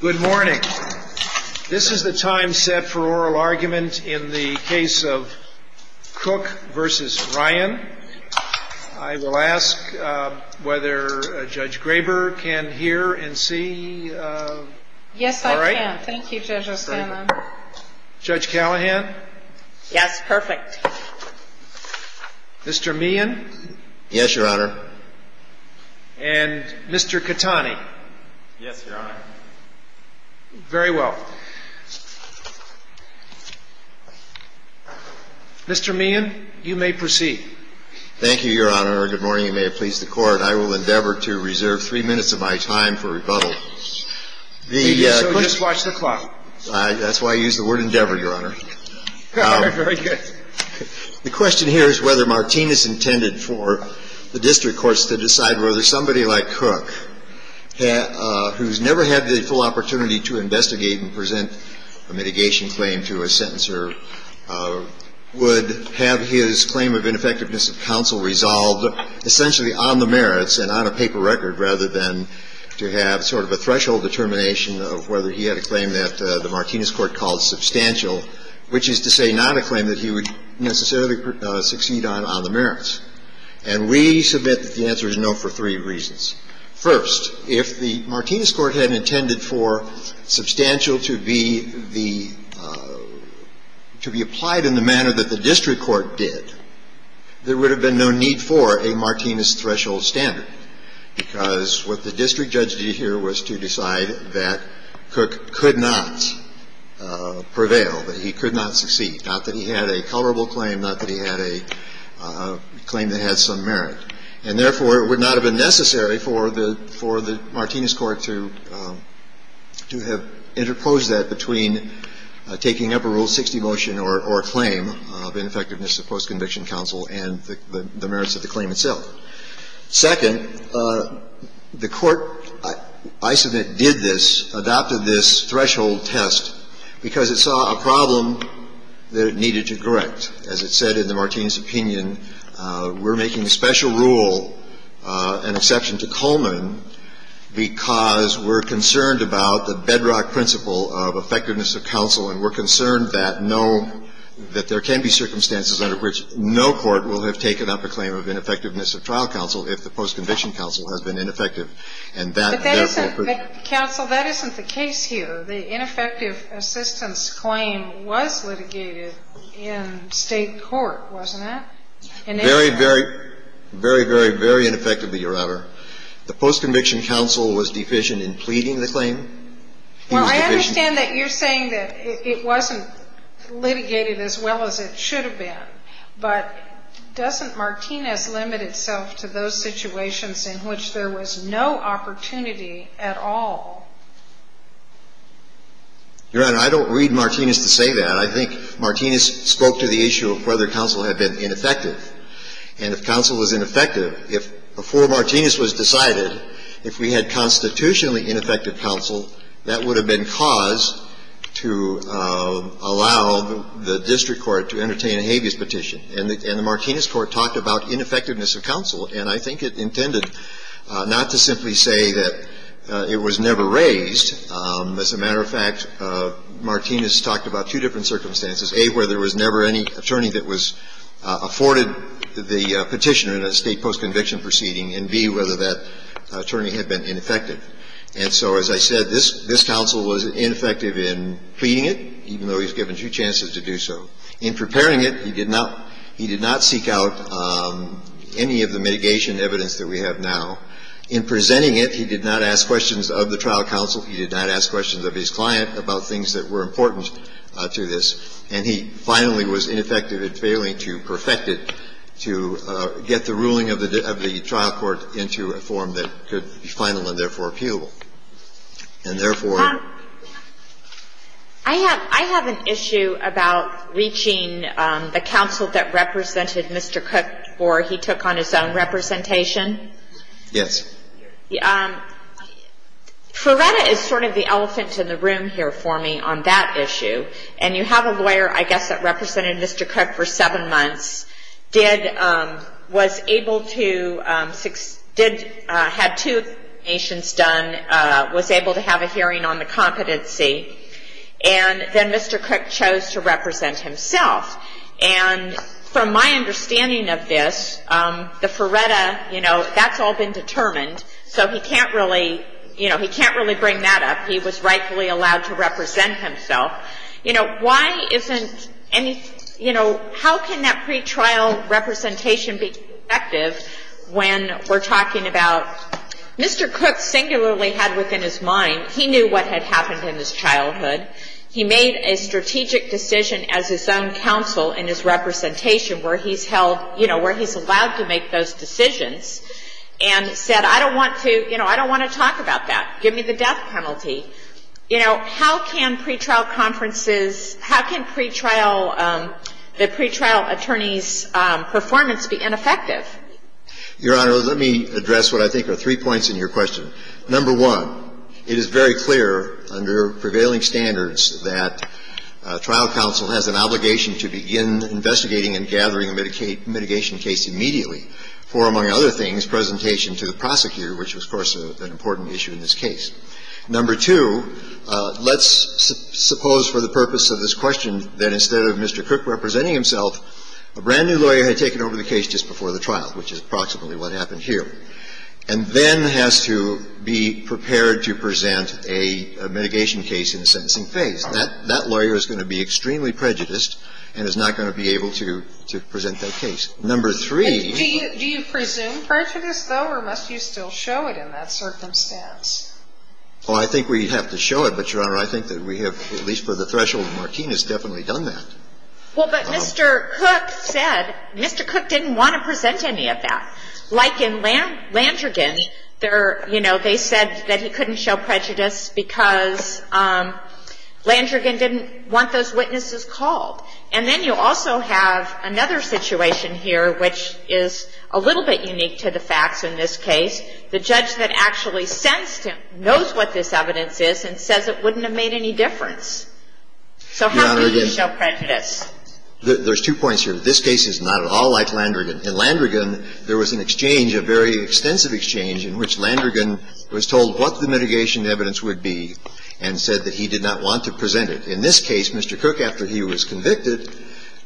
Good morning. This is the time set for oral argument in the case of Cook v. Ryan. I will ask whether Judge Graber can hear and see. Yes, I can. Thank you, Judge O'Sullivan. Judge Callahan? Yes, perfect. Mr. Meehan? Yes, Your Honor. And Mr. Catani? Yes, Your Honor. Very well. Mr. Meehan, you may proceed. Thank you, Your Honor. Good morning, and may it please the Court. I will endeavor to reserve three minutes of my time for rebuttal. So just watch the clock. That's why I use the word endeavor, Your Honor. Very good. The question here is whether Martinez intended for the district courts to decide whether somebody like Cook, who's never had the full opportunity to investigate and present a mitigation claim to a sentencer, would have his claim of ineffectiveness of counsel resolved essentially on the merits and on a paper record, rather than to have sort of a threshold determination of whether he had a claim that the Martinez court called substantial, which is to say not a claim that he would necessarily succeed on on the merits. And we submit that the answer is no for three reasons. First, if the Martinez court had intended for substantial to be the – to be applied in the manner that the district court did, there would have been no need for a Martinez threshold standard, because what the district judge did here was to decide that Cook could not prevail, that he could not succeed, not that he had a colorable claim, not that he had a claim that had some merit. And therefore, it would not have been necessary for the – for the Martinez court to – to have interposed that between taking up a Rule 60 motion or a claim of ineffectiveness of post-conviction counsel and the merits of the claim itself. Second, the Court, I submit, did this, adopted this threshold test because it saw a problem that it needed to correct. As it said in the Martinez opinion, we're making a special rule, an exception to Coleman, because we're concerned about the bedrock principle of effectiveness of counsel, and we're concerned that no – that there can be circumstances under which no court will have taken up a claim of ineffectiveness of trial counsel if the post-conviction counsel has been ineffective. And that – But that isn't – counsel, that isn't the case here. The ineffective assistance claim was litigated in State court, wasn't it? Very, very, very, very, very ineffectively, Your Honor. The post-conviction counsel was deficient in pleading the claim. Well, I understand that you're saying that it wasn't litigated as well as it should have been, but doesn't Martinez limit itself to those situations in which there was no opportunity at all? Your Honor, I don't read Martinez to say that. I think Martinez spoke to the issue of whether counsel had been ineffective. And if counsel was ineffective, if – before Martinez was decided, if we had constitutionally ineffective counsel, that would have been cause to allow the district court to entertain a habeas petition. And the – and the Martinez court talked about ineffectiveness of counsel. And I think it intended not to simply say that it was never raised. As a matter of fact, Martinez talked about two different circumstances, A, where there was never any attorney that was afforded the petition in a State post-conviction proceeding, and, B, whether that attorney had been ineffective. And so, as I said, this – this counsel was ineffective in pleading it, even though he was given two chances to do so. In preparing it, he did not – he did not seek out any of the mitigation evidence that we have now. In presenting it, he did not ask questions of the trial counsel, he did not ask questions of his client about things that were important to this, and he finally was ineffective in failing to perfect it to get the ruling of the – of the trial court into a form that could be final and therefore appealable. And therefore – I have – I have an issue about reaching the counsel that represented Mr. Cook before he took on his own representation. Yes. Ferreira is sort of the elephant in the room here for me on that issue. And you have a lawyer, I guess, that represented Mr. Cook for seven months, did – was able to – did – had two applications done, was able to have a hearing on the competency, and then Mr. Cook chose to represent himself. And from my understanding of this, the Ferreira, you know, that's all been determined, so he can't really – you know, he was rightfully allowed to represent himself. You know, why isn't any – you know, how can that pretrial representation be effective when we're talking about – Mr. Cook singularly had within his mind – he knew what had happened in his childhood. He made a strategic decision as his own counsel in his representation where he's held – you know, where he's allowed to make those decisions and said, I don't want to – you know, I don't want to talk about that. Give me the death penalty. You know, how can pretrial conferences – how can pretrial – the pretrial attorney's performance be ineffective? Your Honor, let me address what I think are three points in your question. Number one, it is very clear under prevailing standards that trial counsel has an obligation to begin investigating and gathering a mitigation case immediately for, among other things, presentation to the prosecutor, which was, of course, an important issue in this case. Number two, let's suppose for the purpose of this question that instead of Mr. Cook representing himself, a brand-new lawyer had taken over the case just before the trial, which is approximately what happened here, and then has to be prepared to present a mitigation case in the sentencing phase. That lawyer is going to be extremely prejudiced and is not going to be able to present that case. Number three – Do you presume prejudice, though, or must you still show it in that circumstance? Well, I think we have to show it, but, Your Honor, I think that we have, at least for the threshold of Martinez, definitely done that. Well, but Mr. Cook said – Mr. Cook didn't want to present any of that. Like in Landrigan, there – you know, they said that he couldn't show prejudice because Landrigan didn't want those witnesses called. And then you also have another situation here, which is a little bit unique to the facts in this case. The judge that actually sentenced him knows what this evidence is and says it wouldn't have made any difference. So how could he show prejudice? Your Honor, again, there's two points here. This case is not at all like Landrigan. In Landrigan, there was an exchange, a very extensive exchange, in which Landrigan was told what the mitigation evidence would be and said that he did not want to present it. In this case, Mr. Cook, after he was convicted,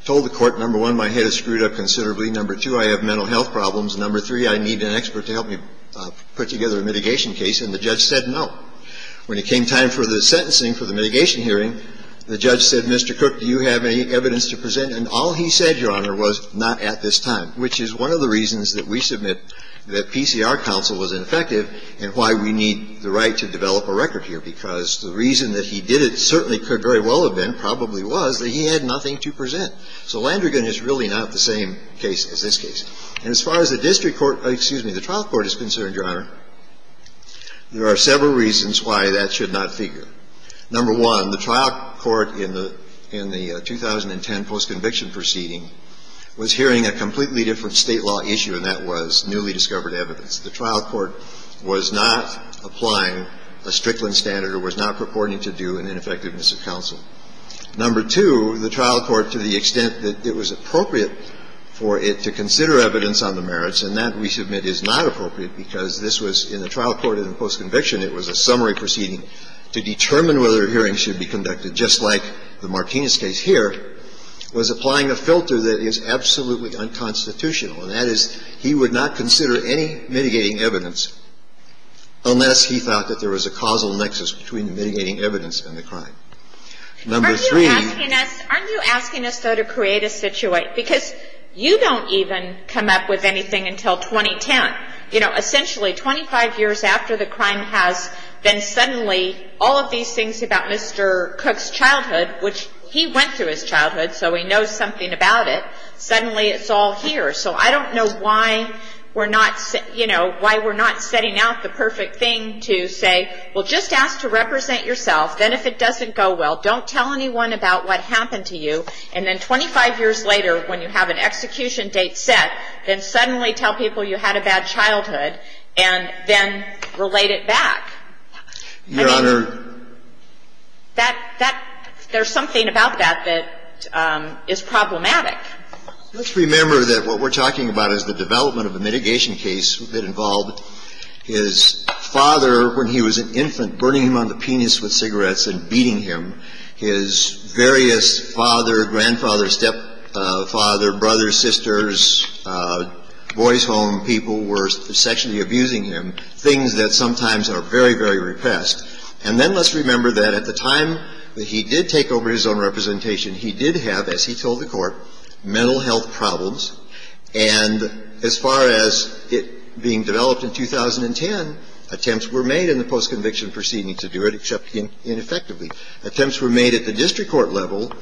told the court, number one, my head is screwed up considerably. Number two, I have mental health problems. Number three, I need an expert to help me put together a mitigation case. And the judge said no. When it came time for the sentencing for the mitigation hearing, the judge said, Mr. Cook, do you have any evidence to present? And all he said, Your Honor, was not at this time, which is one of the reasons that we submit that PCR counsel was ineffective and why we need the right to develop a record here, because the reason that he did it certainly could very well have been, probably was, that he had nothing to present. So Landrigan is really not the same case as this case. And as far as the district court, excuse me, the trial court is concerned, Your Honor, there are several reasons why that should not figure. Number one, the trial court in the 2010 postconviction proceeding was hearing a completely different State law issue, and that was newly discovered evidence. The trial court was not applying a Strickland standard or was not purporting to do an ineffectiveness of counsel. Number two, the trial court, to the extent that it was appropriate for it to consider evidence on the merits, and that, we submit, is not appropriate because this was in the trial court in the postconviction, it was a summary proceeding to determine whether hearings should be conducted, just like the Martinez case here, was applying a filter that is absolutely unconstitutional, and that is he would not consider any mitigating evidence unless he thought that there was a causal nexus between the mitigating evidence and the crime. Number three — Aren't you asking us, though, to create a situation? Because you don't even come up with anything until 2010. You know, essentially, 25 years after the crime has, then suddenly all of these things about Mr. Cook's childhood, which he went through his childhood, so he knows something about it, suddenly it's all here. So I don't know why we're not, you know, why we're not setting out the perfect thing to say, well, just ask to represent yourself, then if it doesn't go well, don't tell anyone about what happened to you, and then 25 years later, when you have an execution date set, then suddenly tell people you had a bad childhood, and then relate it back. I mean — Your Honor — That — that — there's something about that that is problematic. Let's remember that what we're talking about is the development of a mitigation case that involved his father, when he was an infant, burning him on the penis with cigarettes and beating him. His various father, grandfather, stepfather, brothers, sisters, boys home, people were sexually abusing him, things that sometimes are very, very repressed. And then let's remember that at the time that he did take over his own representation, he did have, as he told the Court, mental health problems. And as far as it being developed in 2010, attempts were made in the post-conviction proceeding to do it, except ineffectively. Attempts were made at the district court level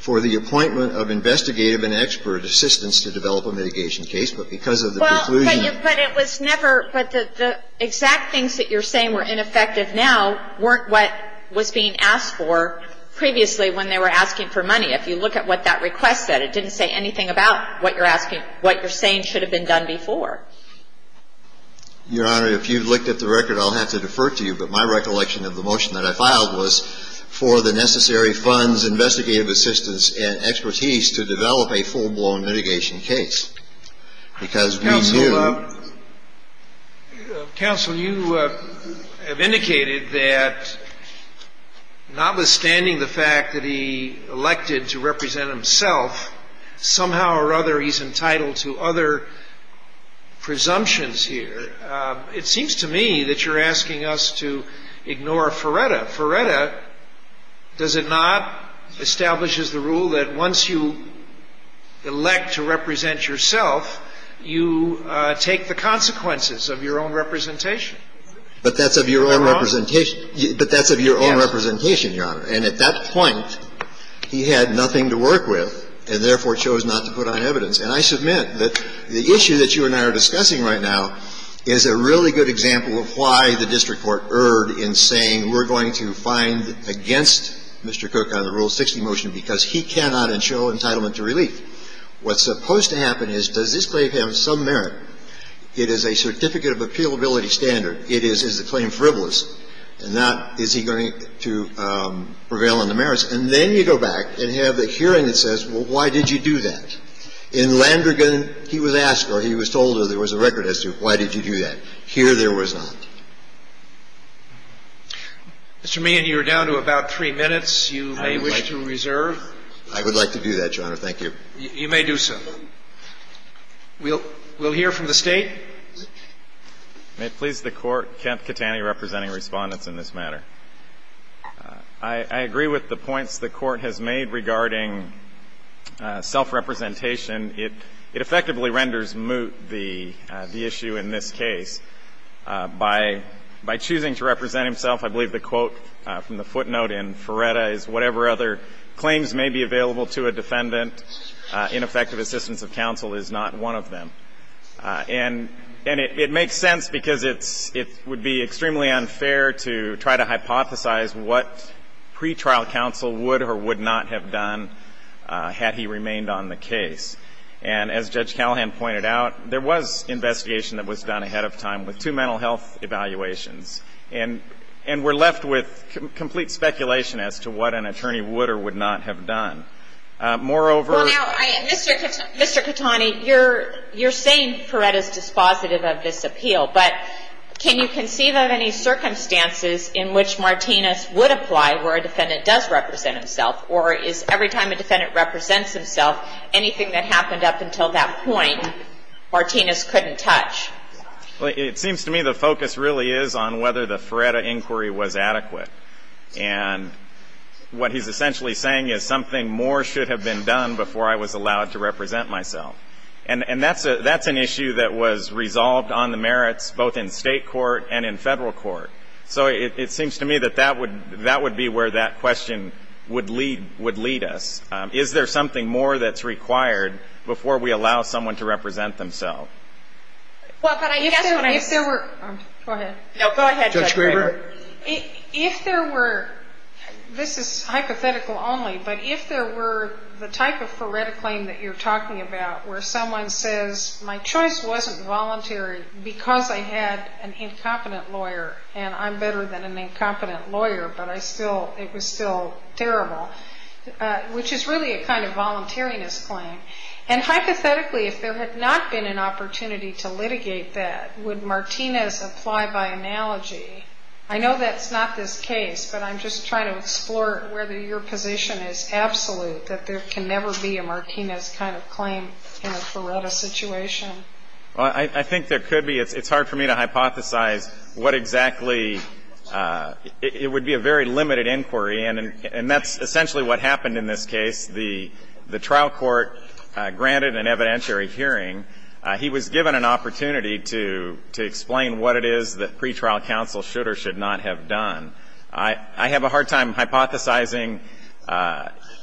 for the appointment of investigative and expert assistance to develop a mitigation case, but because of the conclusion — Well, but it was never — but the exact things that you're saying were ineffective now weren't what was being asked for previously when they were asking for money. If you look at what that request said, it didn't say anything about what you're asking — what you're saying should have been done before. Your Honor, if you looked at the record, I'll have to defer to you, but my recollection of the motion that I filed was for the necessary funds, investigative assistance and expertise to develop a full-blown mitigation case, because we do — Counsel, you have indicated that notwithstanding the fact that he elected to represent himself, somehow or other he's entitled to other presumptions here. It seems to me that you're asking us to ignore Feretta. Feretta, does it not, establishes the rule that once you elect to represent yourself, you take the consequences of your own representation. But that's of your own representation. But that's of your own representation, Your Honor. And at that point, he had nothing to work with and therefore chose not to put on evidence. And I submit that the issue that you and I are discussing right now is a really good example of why the district court erred in saying we're going to find against Mr. Cook on the Rule 60 motion because he cannot ensure entitlement to relief. What's supposed to happen is, does this claim have some merit? It is a certificate of appealability standard. It is, is the claim frivolous? And that, is he going to prevail on the merits? And then you go back and have a hearing that says, well, why did you do that? In Landrigan, he was asked or he was told there was a record as to why did you do that. Here there was not. Mr. Mann, you're down to about three minutes. You may wish to reserve. I would like to do that, Your Honor. Thank you. You may do so. We'll hear from the State. May it please the Court. Kent Catani representing Respondents in this matter. I agree with the points the Court has made regarding self-representation. It effectively renders moot the issue in this case. By choosing to represent himself, I believe the quote from the footnote in Ferretta claims may be available to a defendant. Ineffective assistance of counsel is not one of them. And it makes sense because it would be extremely unfair to try to hypothesize what pretrial counsel would or would not have done had he remained on the case. And as Judge Callahan pointed out, there was investigation that was done ahead of time with two mental health evaluations. And we're left with complete speculation as to what an attorney would or would not have done. Moreover. Mr. Catani, you're saying Ferretta's dispositive of this appeal. But can you conceive of any circumstances in which Martinez would apply where a defendant does represent himself? Or is every time a defendant represents himself, anything that happened up until that point, Martinez couldn't touch? It seems to me the focus really is on whether the Ferretta inquiry was adequate. And what he's essentially saying is something more should have been done before I was allowed to represent myself. And that's an issue that was resolved on the merits both in state court and in federal court. So it seems to me that that would be where that question would lead us. Is there something more that's required before we allow someone to represent themselves? Well, but I guess what I'm saying is. If there were. Go ahead. No, go ahead. Judge Graber. If there were. This is hypothetical only. But if there were the type of Ferretta claim that you're talking about where someone says my choice wasn't voluntary because I had an incompetent lawyer and I'm better than an incompetent lawyer, but I still, it was still terrible. Which is really a kind of voluntariness claim. And hypothetically, if there had not been an opportunity to litigate that, would Martinez apply by analogy? I know that's not this case, but I'm just trying to explore whether your position is absolute that there can never be a Martinez kind of claim in a Ferretta situation. Well, I think there could be. It's hard for me to hypothesize what exactly. It would be a very limited inquiry. And that's essentially what happened in this case. The trial court granted an evidentiary hearing. He was given an opportunity to explain what it is that pretrial counsel should or should not have done. I have a hard time hypothesizing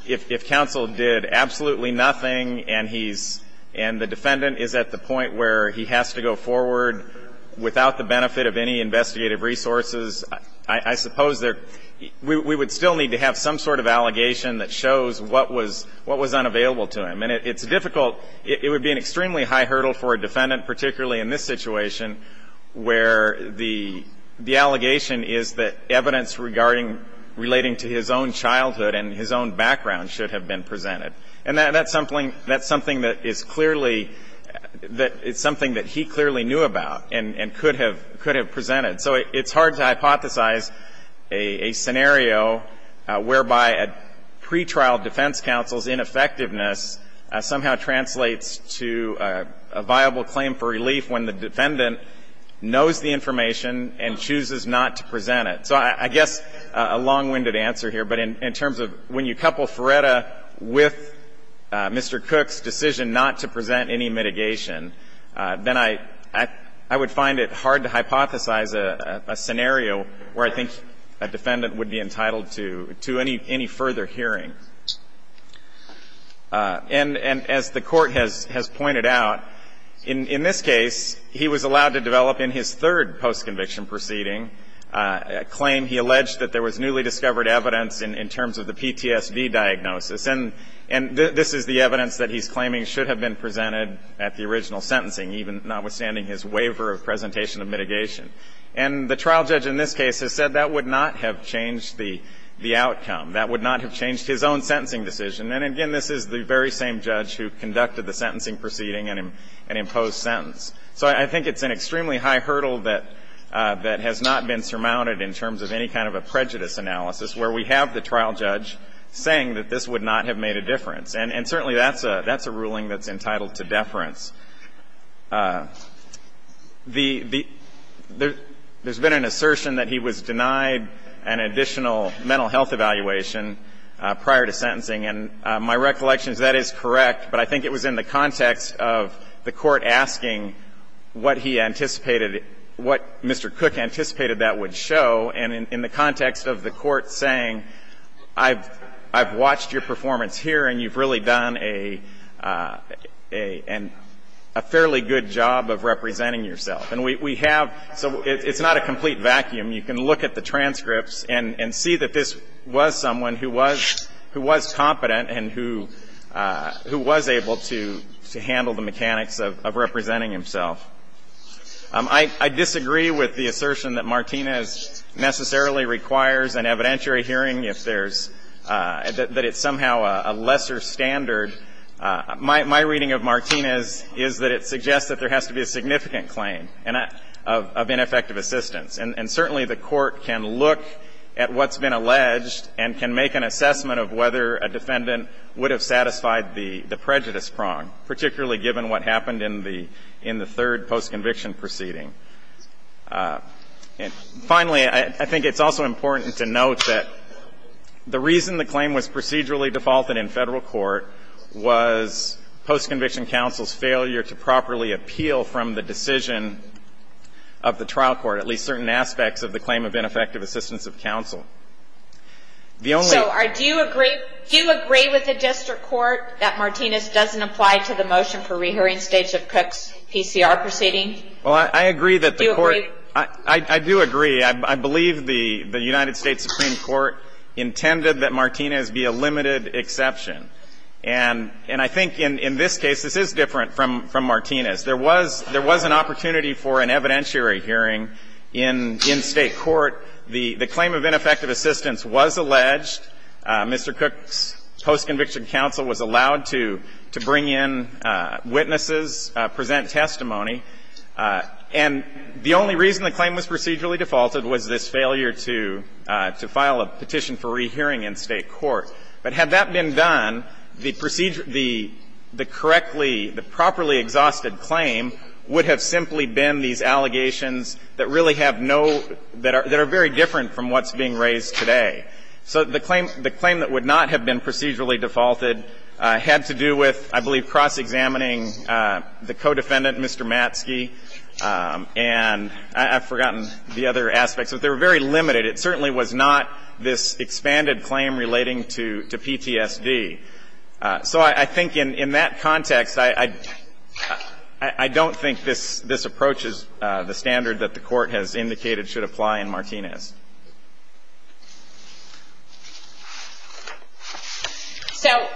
if counsel did absolutely nothing and he's, and the defendant is at the point where he has to go forward without the benefit of any investigative resources. I suppose there, we would still need to have some sort of allegation that shows what was unavailable to him. And it's difficult. It would be an extremely high hurdle for a defendant, particularly in this situation, where the allegation is that evidence regarding, relating to his own childhood and his own background should have been presented. And that's something that is clearly, it's something that he clearly knew about and could have presented. So it's hard to hypothesize a scenario whereby a pretrial defense counsel's ineffectiveness somehow translates to a viable claim for relief when the defendant knows the information and chooses not to present it. So I guess a long-winded answer here, but in terms of when you couple Feretta with Mr. Cook's decision not to present any mitigation, then I would find it hard to hypothesize a scenario where I think a defendant would be entitled to any further hearing. And as the Court has pointed out, in this case, he was allowed to develop in his third postconviction proceeding a claim. He alleged that there was newly discovered evidence in terms of the PTSD diagnosis. And this is the evidence that he's claiming should have been presented at the original litigation. And the trial judge in this case has said that would not have changed the outcome, that would not have changed his own sentencing decision. And again, this is the very same judge who conducted the sentencing proceeding and imposed sentence. So I think it's an extremely high hurdle that has not been surmounted in terms of any kind of a prejudice analysis where we have the trial judge saying that this would not have made a difference. And certainly that's a ruling that's entitled to deference. There's been an assertion that he was denied an additional mental health evaluation prior to sentencing, and my recollection is that is correct, but I think it was in the context of the Court asking what he anticipated, what Mr. Cook anticipated that would show, and in the context of the Court saying, I've watched your performance here and you've really done a fairly good job of representing yourself. And we have so it's not a complete vacuum. You can look at the transcripts and see that this was someone who was competent and who was able to handle the mechanics of representing himself. I disagree with the assertion that Martinez necessarily requires an evidentiary hearing if there's, that it's somehow a lesser standard. My reading of Martinez is that it suggests that there has to be a significant claim of ineffective assistance. And certainly the Court can look at what's been alleged and can make an assessment of whether a defendant would have satisfied the prejudice prong, particularly given what happened in the third post-conviction proceeding. And finally, I think it's also important to note that the reason the claim was procedurally defaulted in Federal court was post-conviction counsel's failure to properly appeal from the decision of the trial court, at least certain aspects of the claim of ineffective assistance of counsel. The only ---- So do you agree with the district court that Martinez doesn't apply to the motion for rehearing Stateship Cook's PCR proceeding? Well, I agree that the Court ---- Do you agree? I do agree. I believe the United States Supreme Court intended that Martinez be a limited exception. And I think in this case, this is different from Martinez. There was an opportunity for an evidentiary hearing in State court. The claim of ineffective assistance was alleged. And the only reason the claim was procedurally defaulted was this failure to file a petition for rehearing in State court. But had that been done, the procedure ---- the correctly ---- the properly exhausted claim would have simply been these allegations that really have no ---- that are very different from what's being raised today. So the claim that would not have been procedurally defaulted had to do with, I believe, cross-examining the co-defendant, Mr. Matske. And I've forgotten the other aspects, but they were very limited. It certainly was not this expanded claim relating to PTSD. So I think in that context, I don't think this approach is the standard that the Court has indicated should apply in Martinez. So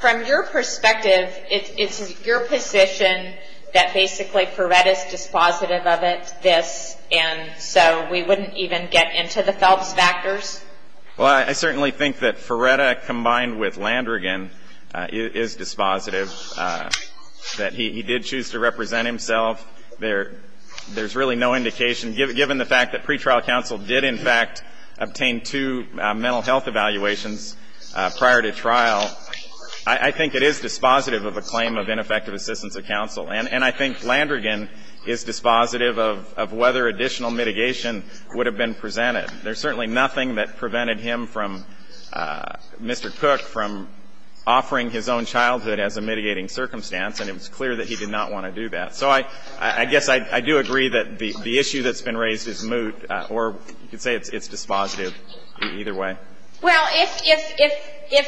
from your perspective, is it your position that basically Ferretta's dispositive of it, this, and so we wouldn't even get into the Phelps factors? Well, I certainly think that Ferretta, combined with Landrigan, is dispositive, that he did choose to represent himself. There's really no indication. Given the fact that pretrial counsel did, in fact, obtain two mental health evaluations prior to trial, I think it is dispositive of a claim of ineffective assistance of counsel. And I think Landrigan is dispositive of whether additional mitigation would have been presented. There's certainly nothing that prevented him from, Mr. Cook, from offering his own childhood as a mitigating circumstance, and it was clear that he did not want to do that. So I guess I do agree that the issue that's been raised is moot, or you could say it's dispositive either way. Well, if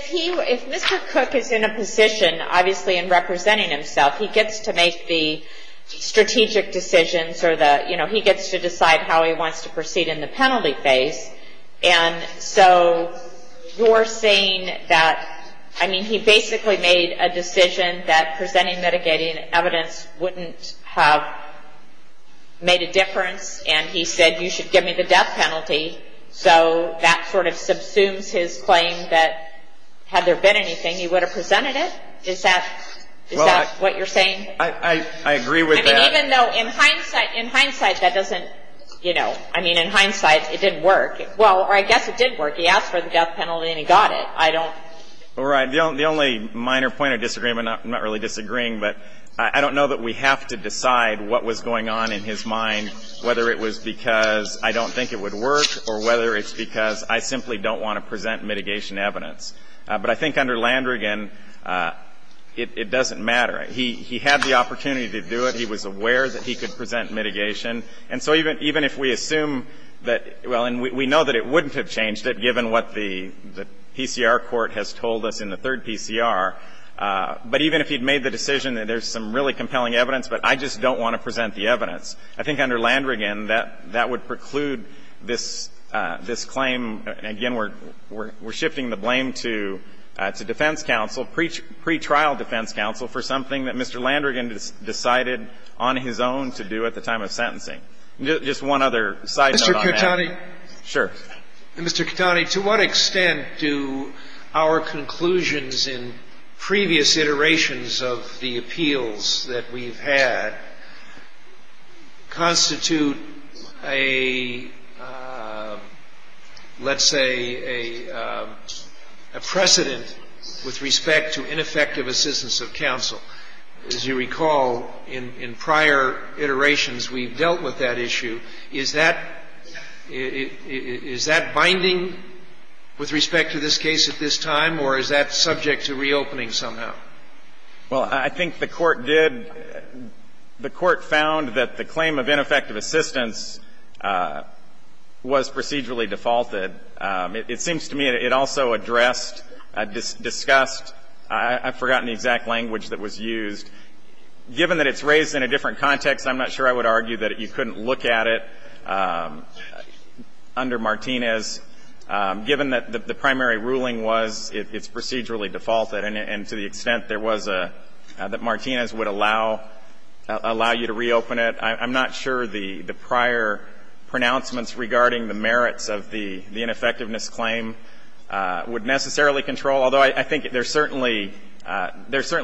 he, if Mr. Cook is in a position, obviously, in representing himself, he gets to make the strategic decisions or the, you know, he gets to decide how he wants to proceed in the penalty phase. And so you're saying that, I mean, he basically made a decision that presenting mitigating evidence wouldn't have made a difference, and he said you should give me the death penalty. So that sort of subsumes his claim that had there been anything, he would have presented it? Is that, is that what you're saying? I agree with that. I mean, even though in hindsight, in hindsight, that doesn't, you know, I mean, in hindsight, it didn't work. Well, or I guess it did work. He asked for the death penalty, and he got it. I don't. All right. The only minor point of disagreement, I'm not really disagreeing, but I don't know that we have to decide what was going on in his mind, whether it was because I don't think it would work or whether it's because I simply don't want to present mitigation evidence. But I think under Landrigan, it doesn't matter. He had the opportunity to do it. He was aware that he could present mitigation. And so even if we assume that, well, and we know that it wouldn't have changed it given what the PCR court has told us in the third PCR, but even if he'd made the decision that there's some really compelling evidence, but I just don't want to present the evidence, I think under Landrigan, that would preclude this claim. Again, we're shifting the blame to defense counsel, pretrial defense counsel, for something that Mr. Landrigan decided on his own to do at the time of sentencing. Just one other side note on that. Mr. Cattani. Sure. Mr. Cattani, to what extent do our conclusions in previous iterations of the appeals that we've had constitute a, let's say, a precedent with respect to ineffective assistance of counsel? As you recall, in prior iterations, we've dealt with that issue. Is that binding with respect to this case at this time, or is that subject to reopening somehow? Well, I think the Court did. The Court found that the claim of ineffective assistance was procedurally defaulted. It seems to me it also addressed, discussed, I've forgotten the exact language that was used. Given that it's raised in a different context, I'm not sure I would argue that you couldn't look at it under Martinez. Given that the primary ruling was it's procedurally defaulted and to the extent there was a, that Martinez would allow you to reopen it, I'm not sure the prior pronouncements regarding the merits of the ineffectiveness claim would necessarily control, although I think there's certainly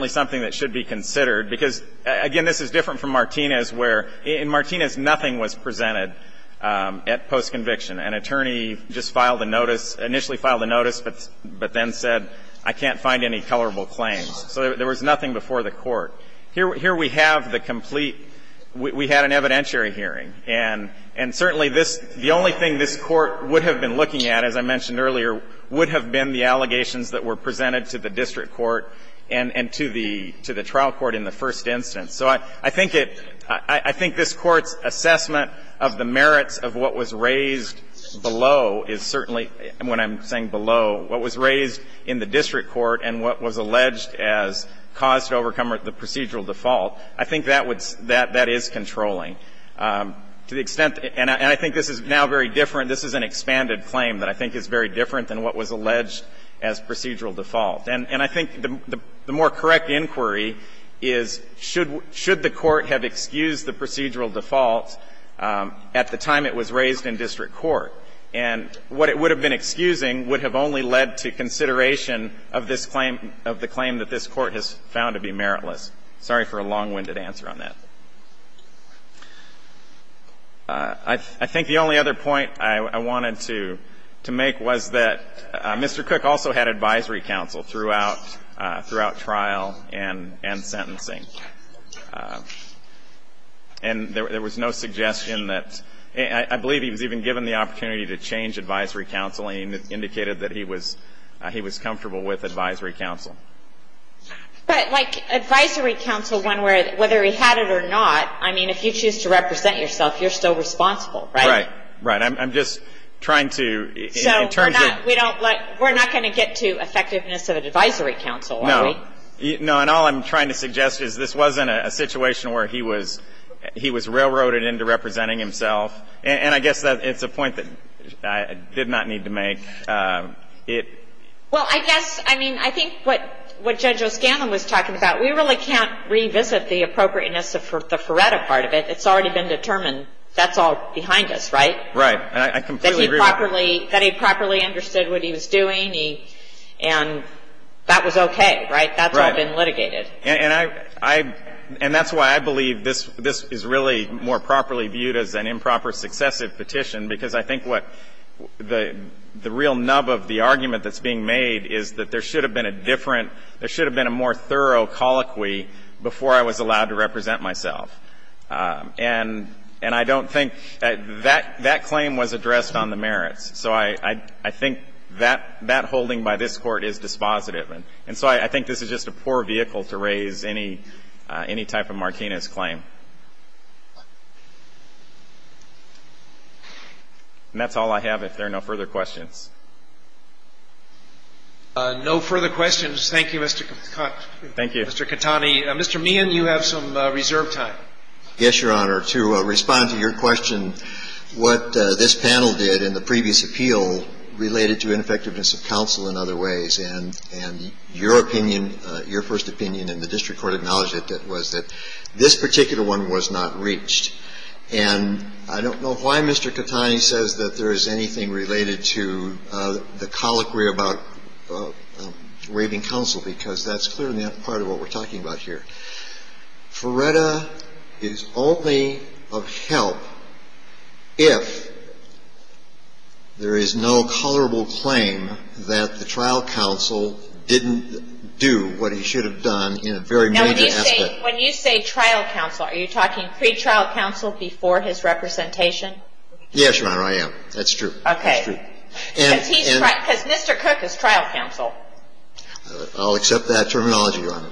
something that should be considered. Because, again, this is different from Martinez, where in Martinez nothing was presented at postconviction. An attorney just filed a notice, initially filed a notice, but then said, I can't find any colorable claims. So there was nothing before the Court. Here we have the complete, we had an evidentiary hearing. And certainly this, the only thing this Court would have been looking at, as I mentioned earlier, would have been the allegations that were presented to the district court and to the trial court in the first instance. So I think it, I think this Court's assessment of the merits of what was raised below is certainly, when I'm saying below, what was raised in the district court and what was alleged as cause to overcome the procedural default, I think that is controlling. To the extent, and I think this is now very different, this is an expanded claim that I think is very different than what was alleged as procedural default. And I think the more correct inquiry is, should the Court have excused the procedural default at the time it was raised in district court? And what it would have been excusing would have only led to consideration of this claim, of the claim that this Court has found to be meritless. Sorry for a long-winded answer on that. I think the only other point I wanted to make was that Mr. Cook also had advisory counsel throughout, throughout trial and sentencing. And there was no suggestion that, I believe he was even given the opportunity to change advisory counsel, and he indicated that he was comfortable with advisory counsel. But, like, advisory counsel, whether he had it or not, I mean, if you choose to represent yourself, you're still responsible, right? Right. Right. I'm just trying to, in terms of the ---- So we're not going to get to effectiveness of an advisory counsel, are we? No. No. And all I'm trying to suggest is this wasn't a situation where he was, he was railroaded into representing himself. And I guess it's a point that I did not need to make. Well, I guess, I mean, I think what Judge O'Scanlan was talking about, we really can't revisit the appropriateness of the Feretta part of it. It's already been determined that's all behind us, right? Right. And I completely agree with that. That he properly understood what he was doing, and that was okay, right? Right. That's all been litigated. And I, I, and that's why I believe this is really more properly viewed as an improper or successive petition, because I think what the, the real nub of the argument that's being made is that there should have been a different, there should have been a more thorough colloquy before I was allowed to represent myself. And, and I don't think, that, that claim was addressed on the merits. So I, I, I think that, that holding by this Court is dispositive. And so I, I think this is just a poor vehicle to raise any, any type of Martinez claim. And that's all I have, if there are no further questions. No further questions. Thank you, Mr. Katani. Thank you. Mr. Katani. Mr. Meehan, you have some reserve time. Yes, Your Honor. To respond to your question, what this panel did in the previous appeal related to ineffectiveness of counsel in other ways, and, and your opinion, your first opinion and the district court acknowledged it, was that this particular one was not reached. And I don't know why Mr. Katani says that there is anything related to the colloquy about waiving counsel, because that's clearly not part of what we're talking about here. Ferretta is only of help if there is no colorable claim that the trial counsel didn't do what he should have done in a very major aspect. Now, when you say, when you say trial counsel, are you talking pretrial counsel before his representation? Yes, Your Honor, I am. That's true. Okay. That's true. Because he's, because Mr. Cook is trial counsel. I'll accept that terminology, Your Honor.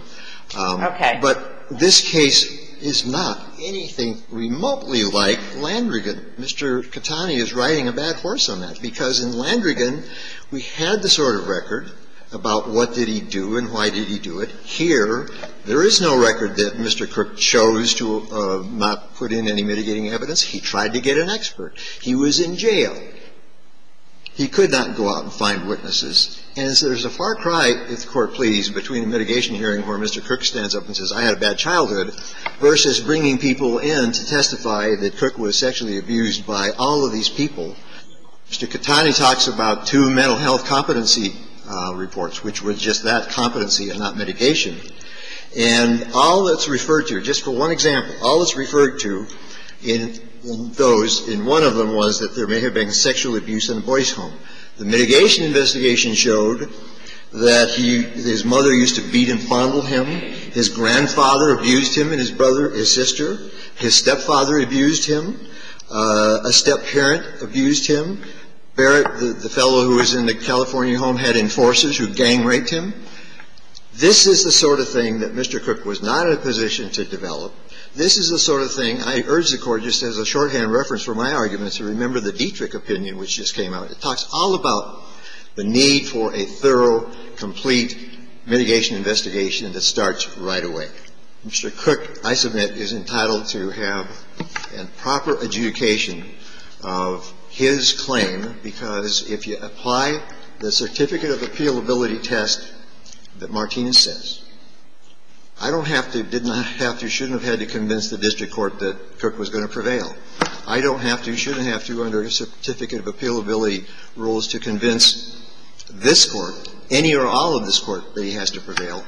Okay. But this case is not anything remotely like Landrigan. Mr. Katani is riding a bad horse on that. And I'm going to say this, because in Landrigan, we had the sort of record about what did he do and why did he do it. Here, there is no record that Mr. Cook chose to not put in any mitigating evidence. He tried to get an expert. He was in jail. He could not go out and find witnesses. And so there's a far cry, if the Court please, between a mitigation hearing where Mr. Cook stands up and says, I had a bad childhood, versus bringing people in to testify that Cook was sexually abused by all of these people. Mr. Katani talks about two mental health competency reports, which was just that competency and not mitigation. And all that's referred to, just for one example, all that's referred to in those, in one of them was that there may have been sexual abuse in the boy's home. The mitigation investigation showed that he, his mother used to beat and fondle him. His grandfather abused him and his brother, his sister. His stepfather abused him. A step-parent abused him. Barrett, the fellow who was in the California home, had enforcers who gang-raped him. This is the sort of thing that Mr. Cook was not in a position to develop. This is the sort of thing I urge the Court, just as a shorthand reference for my argument, to remember the Dietrich opinion which just came out. It talks all about the need for a thorough, complete mitigation investigation that starts right away. Mr. Cook, I submit, is entitled to have a proper adjudication of his claim because if you apply the certificate of appealability test that Martinez says, I don't have to, did not have to, shouldn't have had to convince the district court that Cook was going to prevail. I don't have to, shouldn't have to, under the certificate of appealability rules to convince this Court, any or all of this Court, that he has to prevail.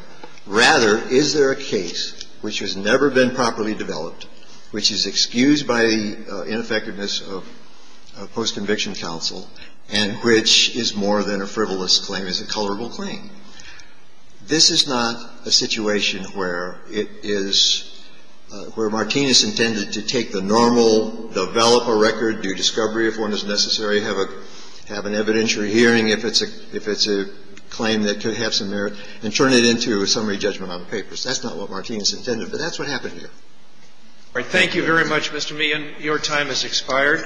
Rather, is there a case which has never been properly developed, which is excused by the ineffectiveness of post-conviction counsel, and which is more than a frivolous claim. It's a colorable claim. This is not a situation where it is, where Martinez intended to take the normal, develop a record, do discovery if one is necessary, have an evidentiary hearing if it's a claim that could have some merit, and turn it into a summary judgment on the papers. That's not what Martinez intended, but that's what happened here. All right. Thank you very much, Mr. Meehan. Your time has expired.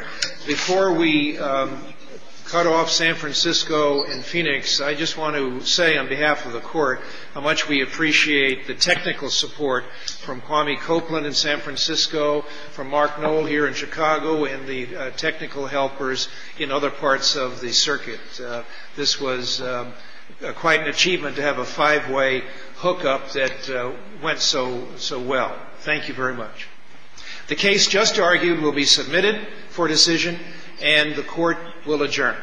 Before we cut off San Francisco and Phoenix, I just want to say on behalf of the Court how much we appreciate the technical support from Kwame Copeland in San Francisco, from Mark Knoll here in Chicago, and the technical helpers in other parts of the circuit. This was quite an achievement to have a five-way hookup that went so well. Thank you very much. The case just argued will be submitted for decision, and the Court will adjourn.